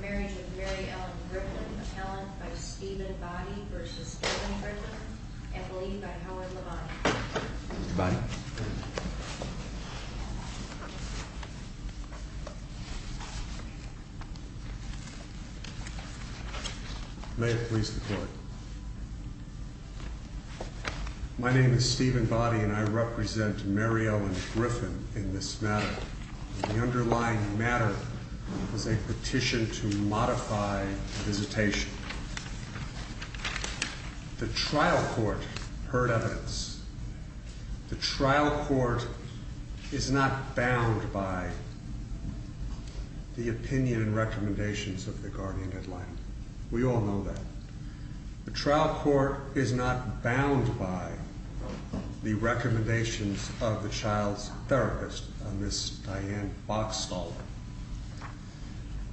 Marriage of Mary Ellen Griffin, Appellant by Stephen Boddy v. Kevin Griffin, and Believed by Howard Levine. Mr. Boddy? May it please the Court, Mr. Chairman, My name is Stephen Boddy and I represent Mary Ellen Griffin in this matter. The underlying matter is a petition to modify visitation. The trial court heard evidence. The trial court is not bound by the opinion and the trial court is not bound by the recommendations of the child's therapist, Ms. Diane Boxstaller.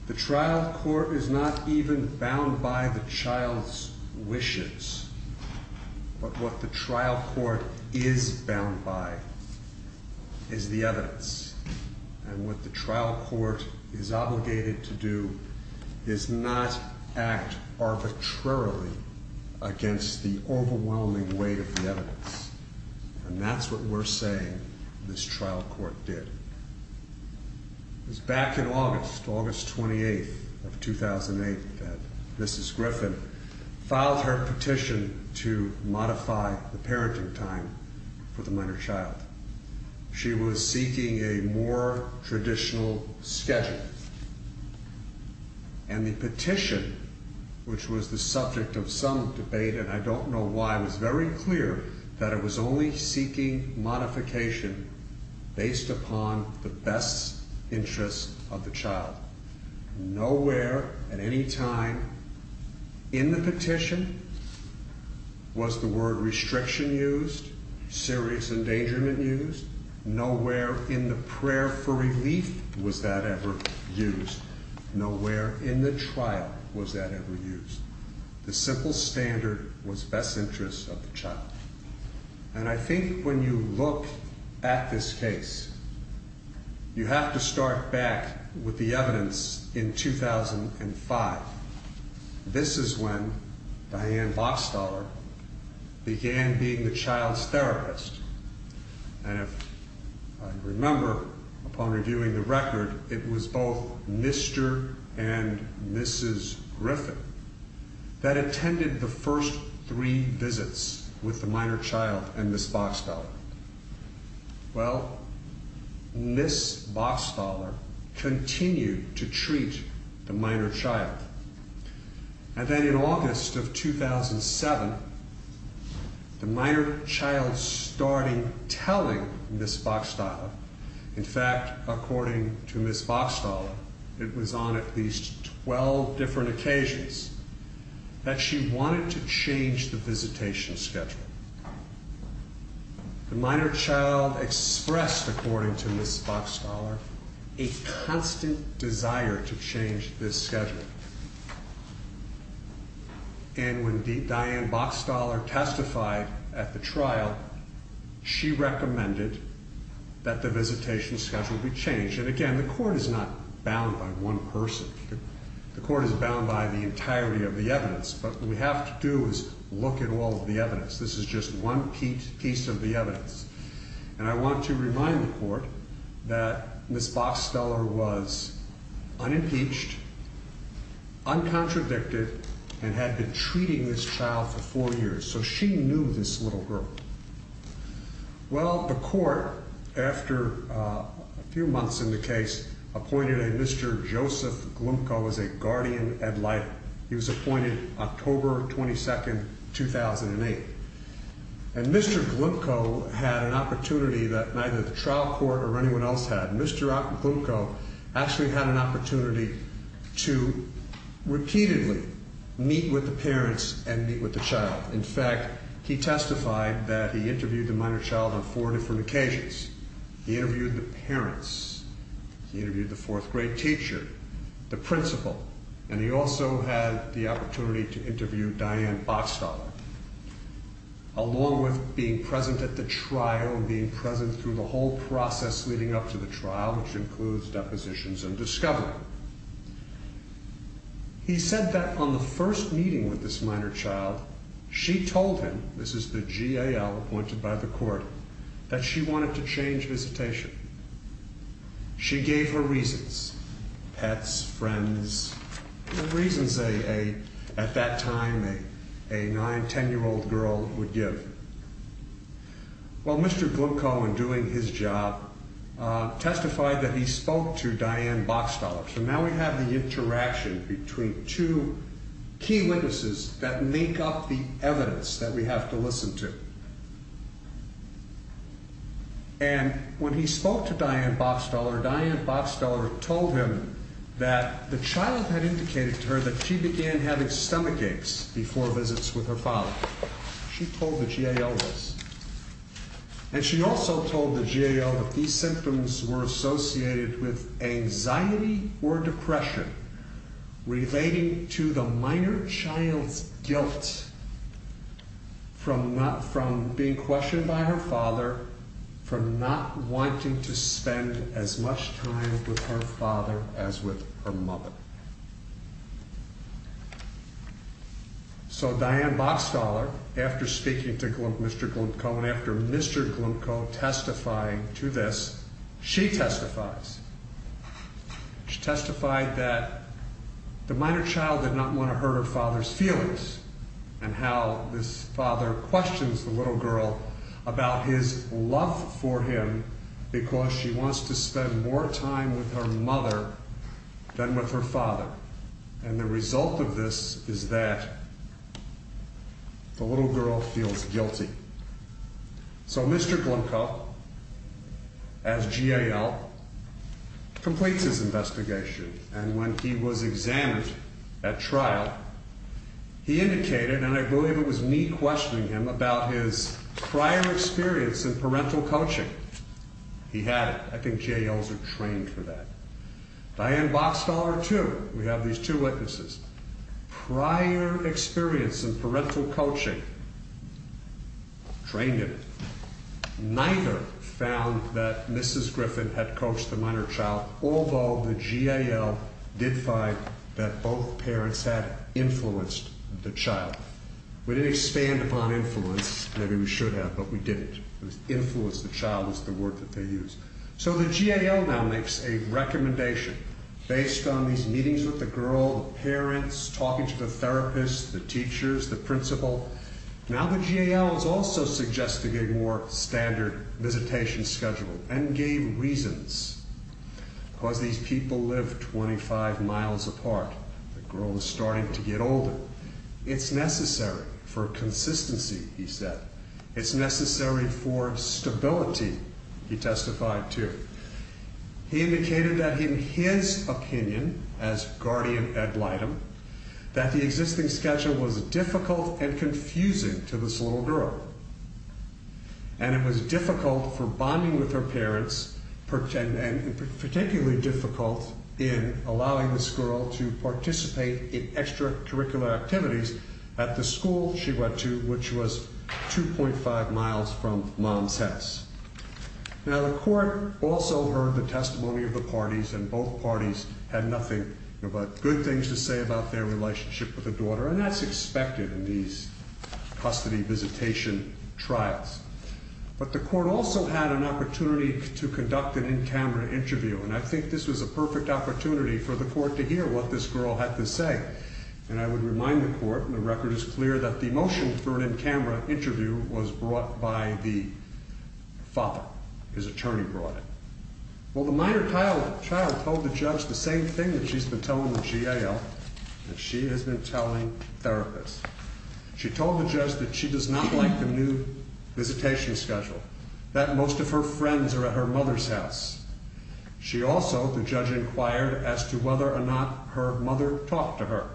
The trial court is not even bound by the child's wishes, but what the trial court is bound by is the evidence and what the trial court is obligated to do is not act arbitrarily against the overwhelming weight of the evidence. And that's what we're saying this trial court did. It was back in August, August 28th of 2008 that Mrs. Griffin filed her petition to modify the parenting time for the minor child. She was seeking a more traditional schedule. And the petition, which was the subject of some debate and I don't know why, was very clear that it was only seeking modification based upon the best interests of the child. Nowhere at any time in the petition was the word restriction used, serious endangerment used. Nowhere in the prayer for relief was that ever used. Nowhere in the trial was that ever used. The simple standard was best interests of the child. And I think when you look at this case, you have to start back with the evidence in 2005. This is when Diane Boxstaller began being the child's therapist. And if I remember upon reviewing the record, it was both Mr. and Mrs. Griffin that attended the first three visits with the minor child and Ms. Boxstaller. Well, Ms. Boxstaller continued to treat the minor child. And then in August of 2007, the minor child started telling Ms. Boxstaller. In fact, according to Ms. Boxstaller, it was on at least 12 different occasions that she wanted to change the visitation schedule. The minor child expressed, according to Ms. Boxstaller, a constant desire to change this schedule. And when Diane Boxstaller testified at the trial, she recommended that the visitation schedule be changed. And again, the court is not going to change the visitation schedule. What you have to do is look at all of the evidence. This is just one piece of the evidence. And I want to remind the court that Ms. Boxstaller was unimpeached, uncontradicted, and had been treating this child for four years. So she knew this little girl. Well, the court, after a few months in the case, appointed a Mr. Joseph Glimko as a guardian ad litem. He was appointed October 22, 2008. And Mr. Glimko had an opportunity that neither the trial court or anyone else had. Mr. Glimko actually had an opportunity to repeatedly meet with the parents and meet with the child. In fact, he testified that he interviewed the minor child on four different occasions. He interviewed the parents. He interviewed the fourth grade teacher, the principal, and he also had the opportunity to interview Diane Boxstaller, along with being present at the trial and being present through the whole process leading up to the trial, which includes depositions and discovery. He said that on the first meeting with this minor child, she told him, this is the GAL appointed by the court, that she wanted to change visitation. She gave her reasons. Pets, friends, the reasons at that time a nine-, ten-year-old girl would give. Well, Mr. Glimko, in doing his job, testified that he spoke to witnesses that make up the evidence that we have to listen to. And when he spoke to Diane Boxstaller, Diane Boxstaller told him that the child had indicated to her that she began having stomach aches before visits with her father. She told the GAL this. And she also told the GAL that these symptoms were associated with the child's guilt from being questioned by her father, from not wanting to spend as much time with her father as with her mother. So Diane Boxstaller, after speaking to Mr. Glimko and after Mr. Glimko testifying to this, she testifies. She testified that the minor child did not want to hurt her father's feelings and how this father questions the little girl about his love for him because she wants to spend more time with her mother than with her father. And the result of this is that the little girl feels guilty. So Mr. Glimko, as GAL, completes his investigation. And when he was examined at trial, he indicated, and I believe it was me questioning him, about his prior experience in parental coaching. He had it. I think GALs are trained for that. Diane Boxstaller, too. We have these two witnesses. Prior experience in parental coaching, trained in it, neither found that Mrs. Griffin had coached the minor child, although the GAL did find that both parents had influenced the child. We didn't expand upon influence. Maybe we should have, but we didn't. Influence the child is the word that they use. So the GAL now makes a more standard visitation schedule and gave reasons because these people live 25 miles apart. The girl is starting to get older. It's necessary for consistency, he said. It's necessary for stability, he testified to. He indicated that in his opinion as guardian attorney at Lightham, that the existing schedule was difficult and confusing to this little girl. And it was difficult for bonding with her parents and particularly difficult in allowing this girl to participate in extracurricular activities at the school she went to, which was 2.5 miles from mom's house. Now the court also heard the testimony of the parties, and both parties had nothing but good things to say about their relationship with the daughter, and that's expected in these custody visitation trials. But the court also had an opportunity to conduct an in-camera interview, and I think this was a perfect opportunity for the court to hear what this girl had to say. And I would remind the court, and the record is clear, that the motion for an in-camera interview was brought by the father, his attorney brought it. Well, the minor child told the judge the same thing that she's been telling the GAO and she has been telling therapists. She told the judge that she does not like the new visitation schedule, that most of her friends are at her mother's house. She also, the judge, inquired as to whether or not her mother talked to her.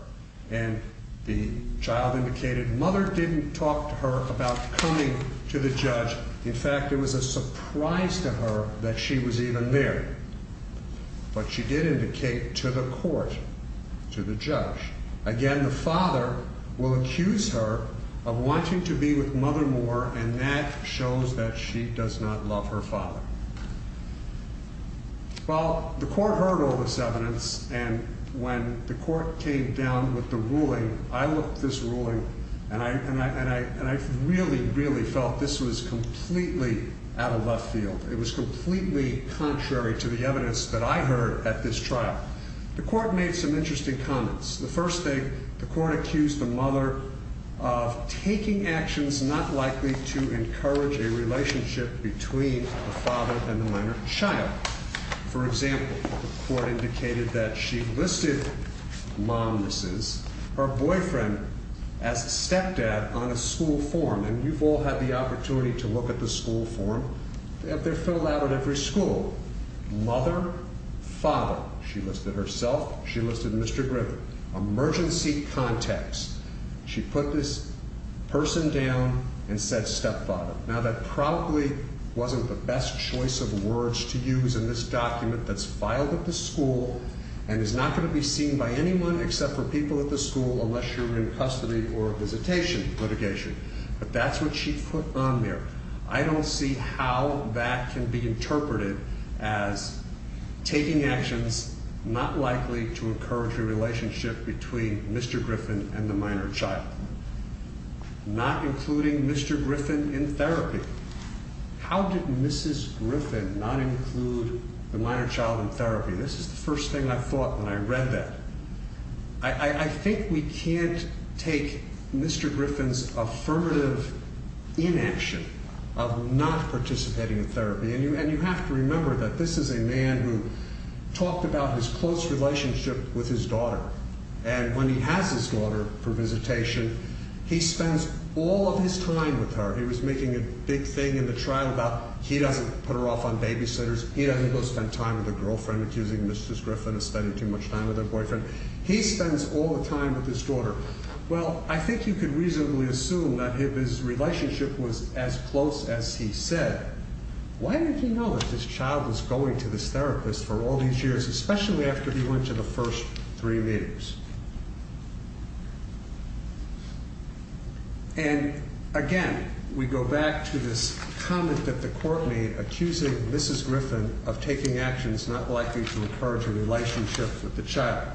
And the child indicated mother didn't talk to her about coming to the judge. In fact, it was a surprise to her that she was even there. But she did indicate to the court, to the judge. Again, the father will accuse her of wanting to be with mother more, and that shows that she does not love her father. Well, the court heard all this evidence, and when the court came down with the ruling, I looked at this ruling, and I really, really felt this was completely out of left field. It was completely contrary to the evidence that I heard at this trial. The court made some interesting comments. The first thing, the court accused the mother of taking actions not likely to encourage a relationship between the father and the minor child. For example, the court indicated that she listed mom, Mrs., her boyfriend as a stepdad on a school form, and you've all had the opportunity to look at the school form. They're filled out at every school. Mother, father. She listed herself. She listed Mr. Griffin. Emergency contacts. She put this person down and said stepfather. Now, that probably wasn't the best choice of words to use in this document that's filed at the school and is not going to be seen by anyone except for people at the school unless you're in custody or visitation litigation. But that's what she put on there. I don't see how that can be interpreted as taking actions not likely to encourage a relationship between Mr. Griffin and the minor child. Not including Mr. Griffin in therapy. How did Mrs. Griffin not include the minor child in therapy? This is the first thing I thought when I read that. I think we can't take Mr. Griffin's affirmative inaction of not participating in therapy. And you have to remember that this is a man who talked about his close relationship with his daughter. And when he has his daughter for visitation, he spends all of his time with her. He was making a big thing in the trial about he doesn't put her off on babysitters. He doesn't go spend time with a girlfriend accusing Mrs. Griffin of spending too much time with her boyfriend. He spends all the time with his daughter. Well, I think you could reasonably assume that his relationship was as close as he said. Why did he know that this child was going to this therapist for all these years, especially after he went to the first three meetings? And again, we go back to this comment that the court made accusing Mrs. Griffin of taking actions not likely to encourage a relationship with the child.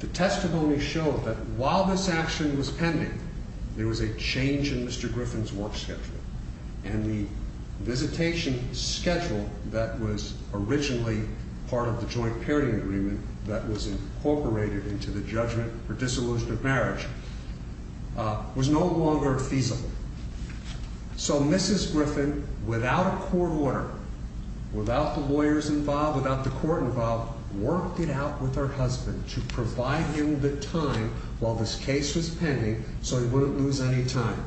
The testimony showed that while this action was pending, there was a change in Mr. Griffin's work schedule. And the visitation schedule that was originally part of the joint pairing agreement that was incorporated into the judgment for disillusion of marriage was no longer feasible. So Mrs. Griffin, without a court order, without the lawyers involved, without the court involved, worked it out with her husband to provide him the time while this case was pending so he wouldn't lose any time.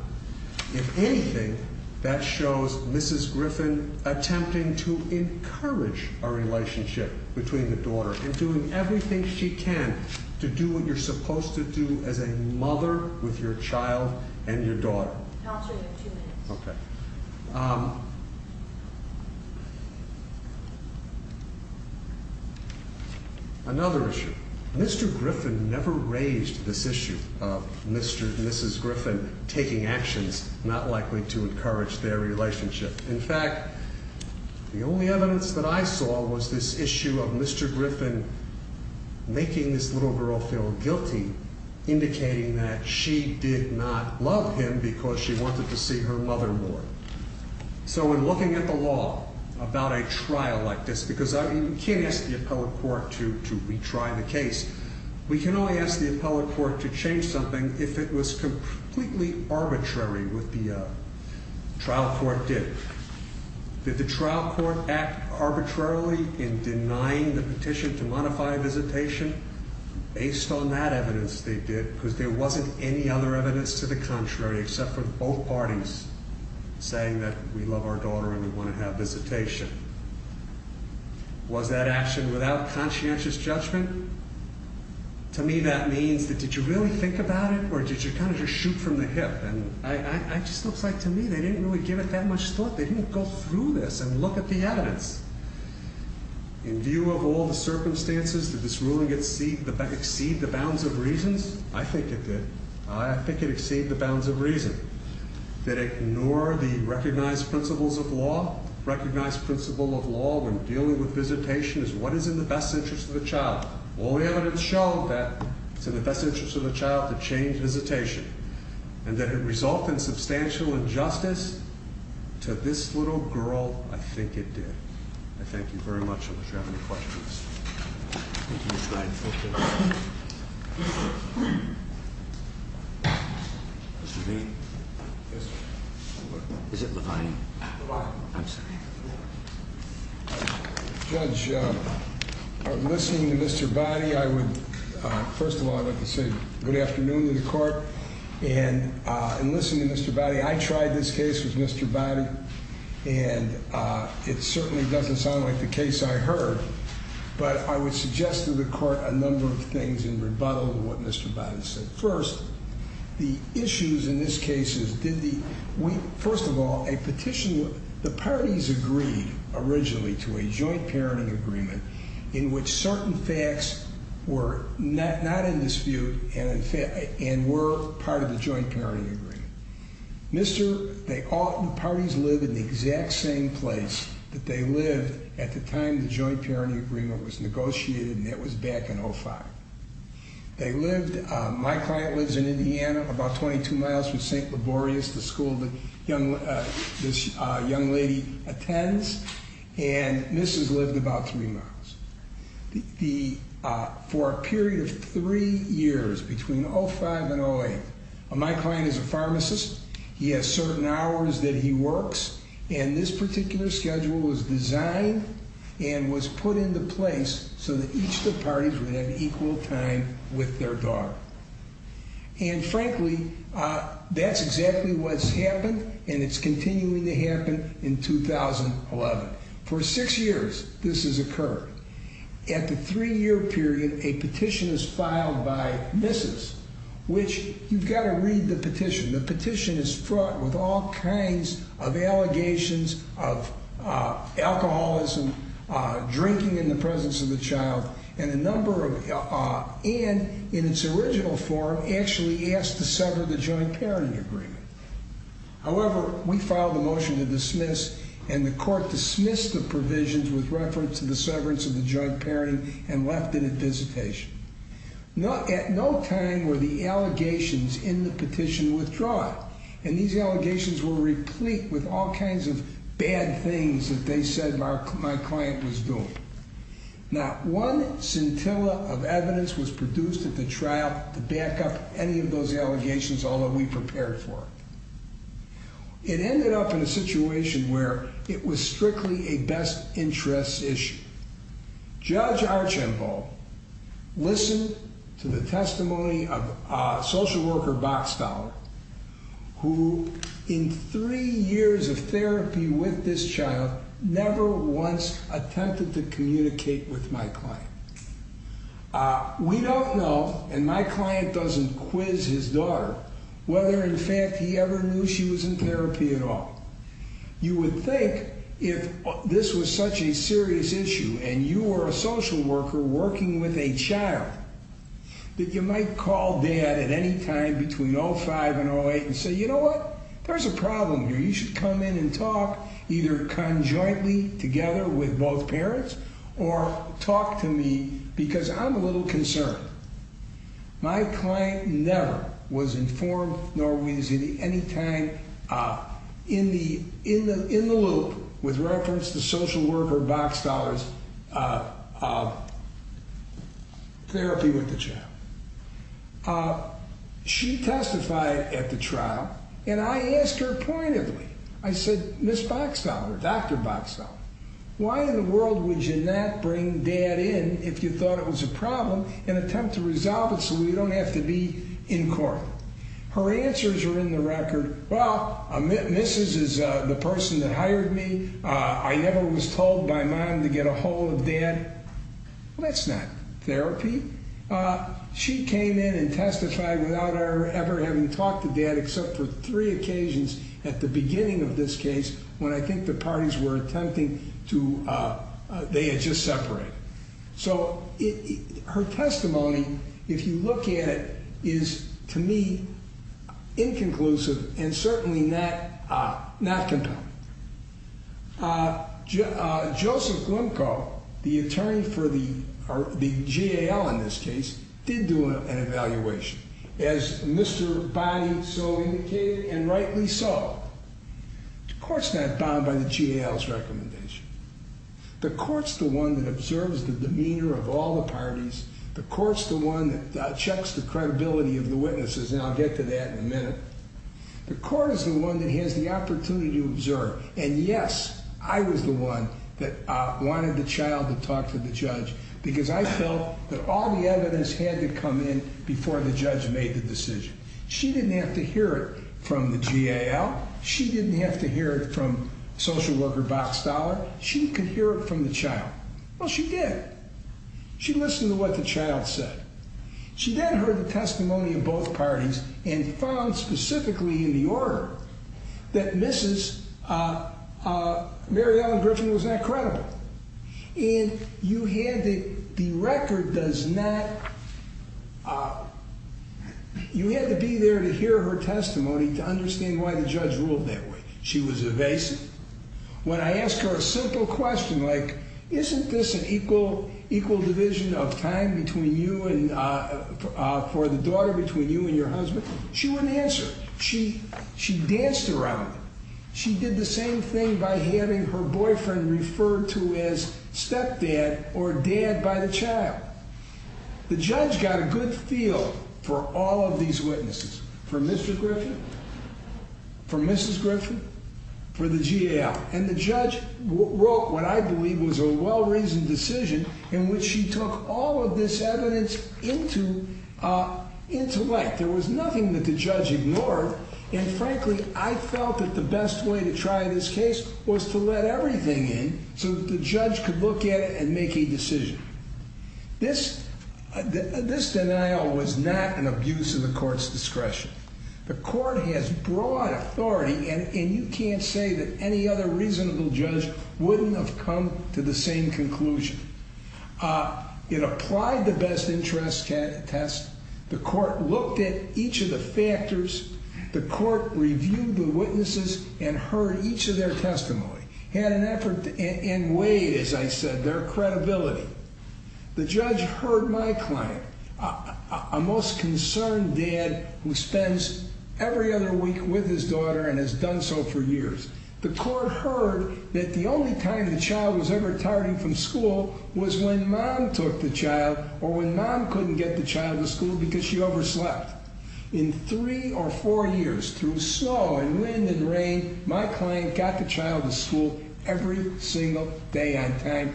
If anything, that shows Mrs. Griffin attempting to encourage a relationship between the daughter and doing everything she can to do what you're supposed to do as a mother with your child and your daughter. Another issue. Mr. Griffin never raised this issue of Mrs. Griffin taking actions not likely to encourage their relationship. In fact, the only evidence that I saw was this issue of Mr. Griffin making this little girl feel guilty, indicating that she did not love him because she wanted to see her mother more. So in looking at the law about a trial like this, because you can't ask the appellate court to retry the case, we can only ask the appellate court to change something if it was that the trial court act arbitrarily in denying the petition to modify visitation based on that evidence they did because there wasn't any other evidence to the contrary except for both parties saying that we love our daughter and we want to have visitation. Was that action without conscientious judgment? To me, that means that did you really think about it or did you kind of just do this and look at the evidence in view of all the circumstances that this ruling exceed the exceed the bounds of reasons? I think it did. I think it exceed the bounds of reason that ignore the recognized principles of law recognized principle of law when dealing with visitation is what is in the best interest of the child. All the evidence showed that it's in the best interest of the child to change visitation and that it result in substantial injustice to this little girl. I think it did. I thank you very much. I'm not sure I have any questions. Thank you, Mr. Biden. Mr. Bean. Is it Levine? I'm sorry. Judge, I'm listening to Mr. Body. First of all, I would like to say good afternoon to the court and listen to Mr. Body. I tried this case with Mr. Body and it certainly doesn't sound like the case I heard, but I would suggest to the court a number of things in rebuttal to what Mr. Body said. First, the issues in this case is, first of all, a petition. The parties agreed originally to a joint parenting agreement in which certain facts were not in dispute and were part of the joint parenting agreement. The parties live in the exact same place that they lived at the time the joint parenting agreement was negotiated and that was back in 05. My client lives in Indiana about 22 miles from St. Laborious, the school that this young lady attends. And Mrs. lived about three miles. For a period of three years between 05 and 08, my client is a pharmacist. He has certain hours that he works and this particular schedule was designed and was put into place so that each of the parties would have equal time with their daughter. And frankly, that's exactly what's happened and it's continuing to happen in 2011. For six years this has occurred. At the three year period, a petition is filed by Mrs., which you've got to read the petition. The petition is fraught with all kinds of allegations of alcoholism, drinking in the presence of the child, and a number of and in its original form actually asked to sever the joint parenting agreement. However, we filed a motion to dismiss and the court dismissed the provisions with reference to the severance of the joint parenting and left it at visitation. At no time were the allegations in the petition withdrawn and these allegations were replete with all kinds of bad things that they said my client was doing. Not one scintilla of evidence was produced at the trial to back up any of those allegations, although we prepared for it. It ended up in a situation where it was strictly a best interest issue. Judge Archambault listened to the testimony of a social worker, Boxstaller, who in three years of therapy with this child never once attempted to communicate with my client. We don't know, and my client doesn't quiz his daughter, whether in fact he ever knew she was in therapy at all. You would think if this was that you might call dad at any time between 05 and 08 and say, you know what? There's a problem here. You should come in and talk either conjointly together with both parents or talk to me because I'm a little concerned. My client never was informed nor was he any time in the loop with reference to social worker Boxstaller's therapy with the child. She testified at the trial and I asked her pointedly. I said, Ms. Boxstaller, Dr. Boxstaller, why in the world would you not bring dad in if you thought it was a problem and attempt to resolve it so we don't have to be in court? Her answers are in the record. Well, Mrs. is the person that hired me. I never was told by mom to get a hold of dad. Well, that's not therapy. She came in and testified without ever having talked to dad except for three occasions at the beginning of this case when I think the parties were attempting to they had just separated. So her testimony, if you look at it, is, to me, inconclusive and certainly not compelling. Joseph Glimko, the attorney for the GAL in this case, did do an evaluation. As Mr. Bonney so indicated and rightly so, the court's not bound by the GAL's recommendation. The court's the one that observes the demeanor of all the parties. The court's the one that checks the credibility of the witnesses, and I'll get to that in a minute. The court is the one that has the opportunity to observe. And yes, I was the one that wanted the child to talk to the judge because I felt that all the evidence had to come in before the judge made the decision. She didn't have to hear it from the GAL. She didn't have to hear it from social worker Box Dollar. She could hear it from the child. Well, she did. She listened to what the child said. She then heard the testimony of both parties and found specifically in the order that Mrs. Mary Ellen Griffin was not credible. And you had the record does not you had to be there to hear her testimony to understand why the judge ruled that way. She was evasive. When I asked her a simple question like, isn't this an equal division of time for the daughter between you and your husband? She wouldn't answer. She danced around it. She did the same thing by having her boyfriend referred to as stepdad or dad by the child. The judge got a good feel for all of these witnesses for Mr. Griffin, for Mrs. Griffin, for the GAL. And the judge wrote what I believe was a well-reasoned decision in which she took all of this evidence into intellect. There was nothing that the judge ignored. And frankly, I felt that the best way to try this case was to let everything in so that the judge could look at it and make a decision. This denial was not an abuse of the court's discretion. The court has broad authority, and you can't say that any other reasonable judge wouldn't have come to the same conclusion. It applied the best interest test. The court looked at each of the factors. The court reviewed the witnesses and heard each of their testimony. Had an effort and weighed, as I said, their credibility. The judge heard my claim. A most concerned dad who spends every other week with his daughter and has done so for years. The court heard that the only time the child was ever tardy from school was when mom took the child or when mom couldn't get the child to school because she overslept. In three or four years, through snow and wind and rain, my client got the child to school every single day on time.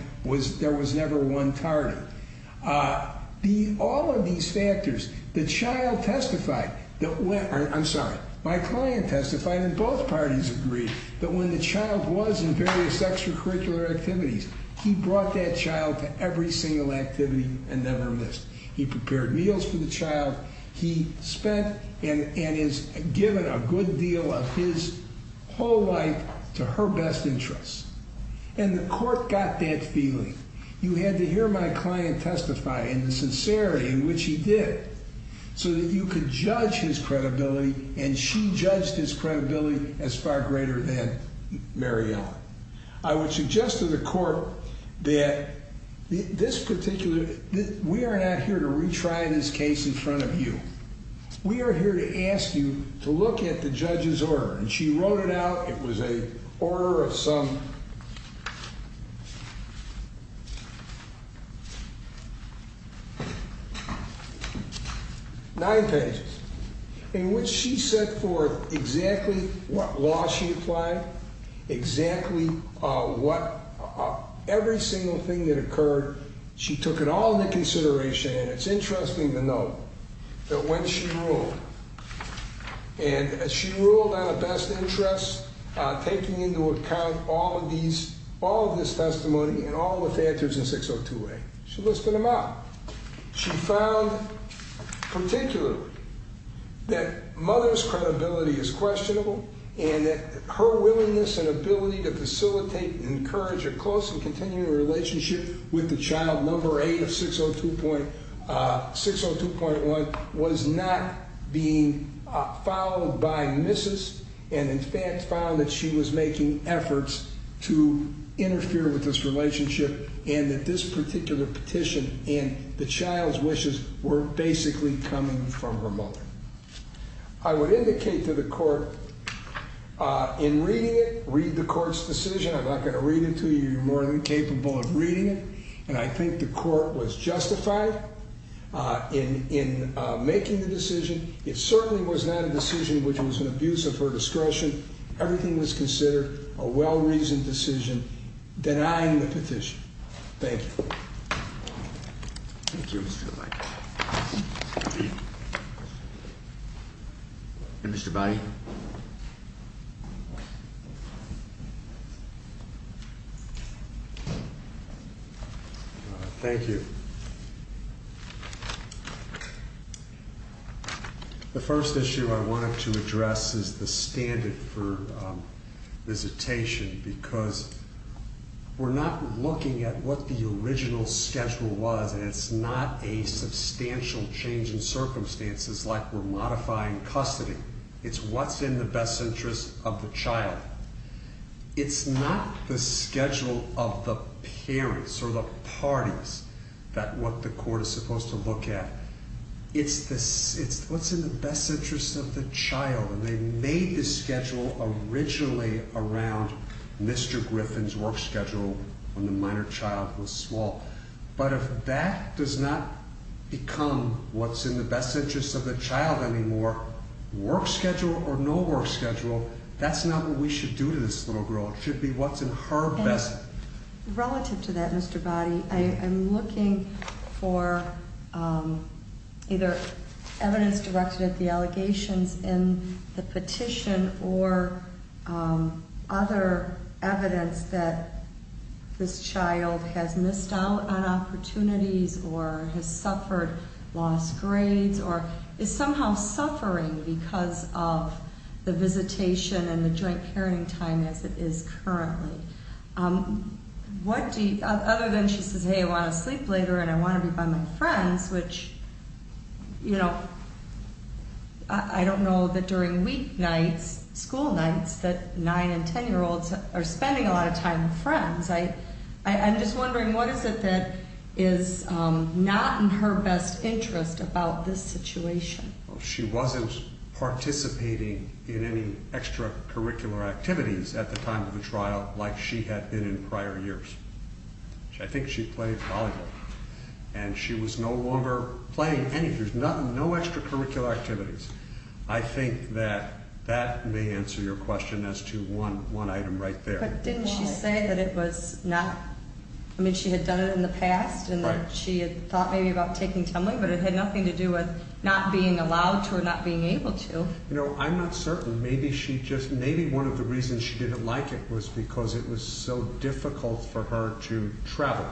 There was never one tardy. All of these factors, the child was in various extracurricular activities. He brought that child to every single activity and never missed. He prepared meals for the child. He spent and is given a good deal of his whole life to her best interests. And the court got that feeling. You had to hear my client testify in the sincerity in which he did so that you could judge his credibility. And she judged his credibility as far greater than Mary Ellen. I would suggest to the court that this particular, we are not here to retry this case in front of you. We are here to ask you to look at the judge's order. And she wrote it out. It was an order of some nine pages. Nine pages. In which she set forth exactly what law she applied, exactly what every single thing that occurred, she took it all into consideration. And it's interesting to note that when she ruled. And she ruled on a best interest, taking into account all of these, all of this testimony and all of the factors in 602A. She listed them out. She found particularly that mother's credibility is questionable and that her willingness and ability to facilitate and encourage a close and continuing relationship with the child, number eight of 602.1, was not being followed by Mrs. And in fact found that she was making efforts to interfere with this relationship and that this particular petition and the child's wishes were basically coming from her mother. I would indicate to the court in reading it, read the court's reading it, and I think the court was justified in making the decision. It certainly was not a decision which was an abuse of her discretion. Everything was considered a well-reasoned decision denying the petition. Thank you. Mr. Body. Thank you. The first issue I wanted to address is the standard for visitation because we're not looking at what the original schedule was and it's not a substantial change in circumstances like we're modifying custody. It's what's in the best interest of the child. It's not the schedule of the parents or the parties that what the court is supposed to look at. It's what's in the best interest of the child and they made the schedule originally around Mr. Griffin's work schedule when the minor child was small. But if that does not become what's in the best interest of the child anymore, work schedule or no work schedule, that's not what we should do to this little girl. It should be what's in her best interest. Relative to that, Mr. Body, I'm looking for either evidence directed at the allegations in the petition or other evidence that this child has missed out on opportunities or has suffered lost grades or is somehow suffering because of the visitation and the joint parenting time as it is currently. Other than she says, hey, I want to sleep later and I want to be by my friends, which I don't know that during weeknights, school nights, that 9 and 10 year olds are spending a lot of time with friends. I'm just wondering what is it that is not in her best interest about this situation? She wasn't participating in any extracurricular activities at the time of the trial like she had been in prior years. I think she played volleyball and she was no longer playing any, there's no extracurricular activities. I think that may answer your question as to one item right there. But didn't she say that it was not, I mean, she had done it in the past and that she had thought maybe about taking TEMLI, but it had nothing to do with not being allowed to or not being able to. I'm not certain. Maybe she just, maybe one of the reasons she didn't like it was because it was so difficult for her to travel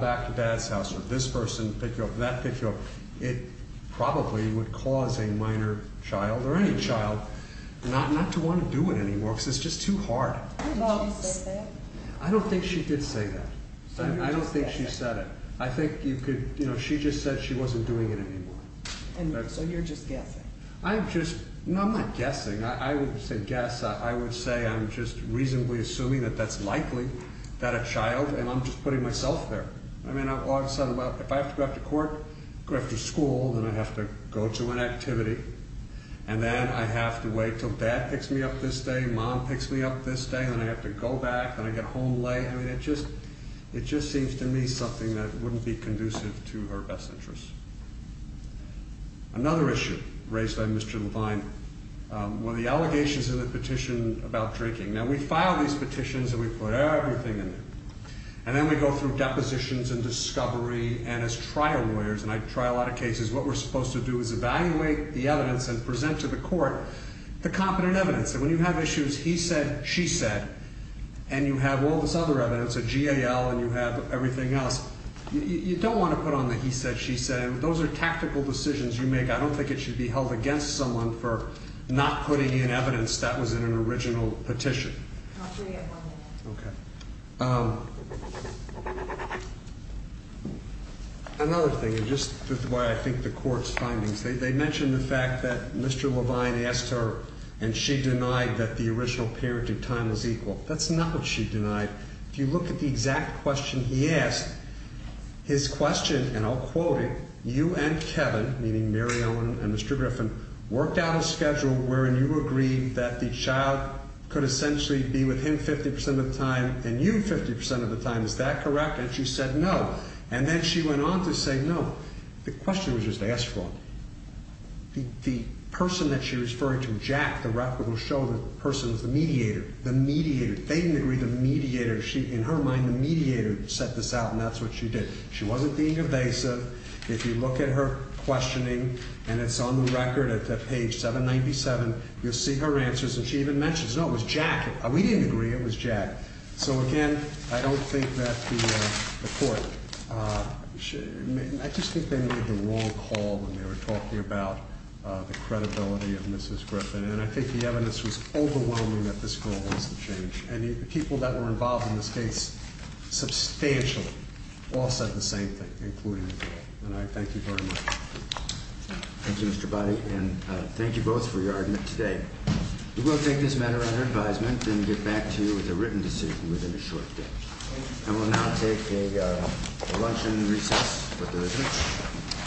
back to dad's house or this person pick you up and that pick you up. It probably would cause a minor child or any child not to want to do it anymore because it's just too hard. Did she say that? I don't think she did say that. I don't think she said it. I think you could, you know, she just said she wasn't doing it anymore. So you're just guessing? I'm just, no, I'm not guessing. I wouldn't say guess. I would say I'm just reasonably assuming that that's likely that a child, and I'm just putting myself there. I mean, all of a sudden, well, if I have to go out to court, go after school, then I have to go to an activity and then I have to wait till dad picks me up this day. Mom picks me up this day. Then I have to go back and I get home late. I mean, it just, it just seems to me something that wouldn't be conducive to her best interests. Another thing that we do is we do a lot of trial lawyers. And I try a lot of cases. What we're supposed to do is evaluate the evidence and present to the court the competent evidence that when you have issues, he said, she said, and you have all this other evidence at GAL and you have everything else. You don't want to put on the he said, she said. Those are tactical decisions you make. I don't think it should be held against someone for not putting in evidence that was in an original petition. Okay. Another thing is just why I think the court's findings, they mentioned the fact that Mr. Levine asked her and she denied that the original parent in time was equal. That's not what she denied. If you look at the exact question he asked his question and I'll quote it. You and Kevin, meaning Mary Ellen and Mr. Griffin worked out a schedule wherein you agree that the child could essentially be with him 50% of the time and you 50% of the time. Is that correct? And she said no. And then she went on to say no. The question was just asked for the person that she was referring to. Jack, the rep will show the person was the mediator, the mediator. They didn't agree the mediator. She, in her mind, the mediator set this out and that's what she did. She wasn't being evasive. If you look at her questioning and it's on the record at page 797, you'll see her answers. And she even mentions, no, it was jacket. We didn't agree. It was Jack. So again, I don't think that the court, uh, I just think they made the wrong call when they were talking about the credibility of Mrs. Change. And the people that were involved in this case substantially all said the same thing, including, and I thank you very much. Thank you, Mr. Buddy. And thank you both for your argument today. We will take this matter under advisement and get back to you with a written decision within a short day. And we'll now take a, uh, lunch and recess. But there isn't a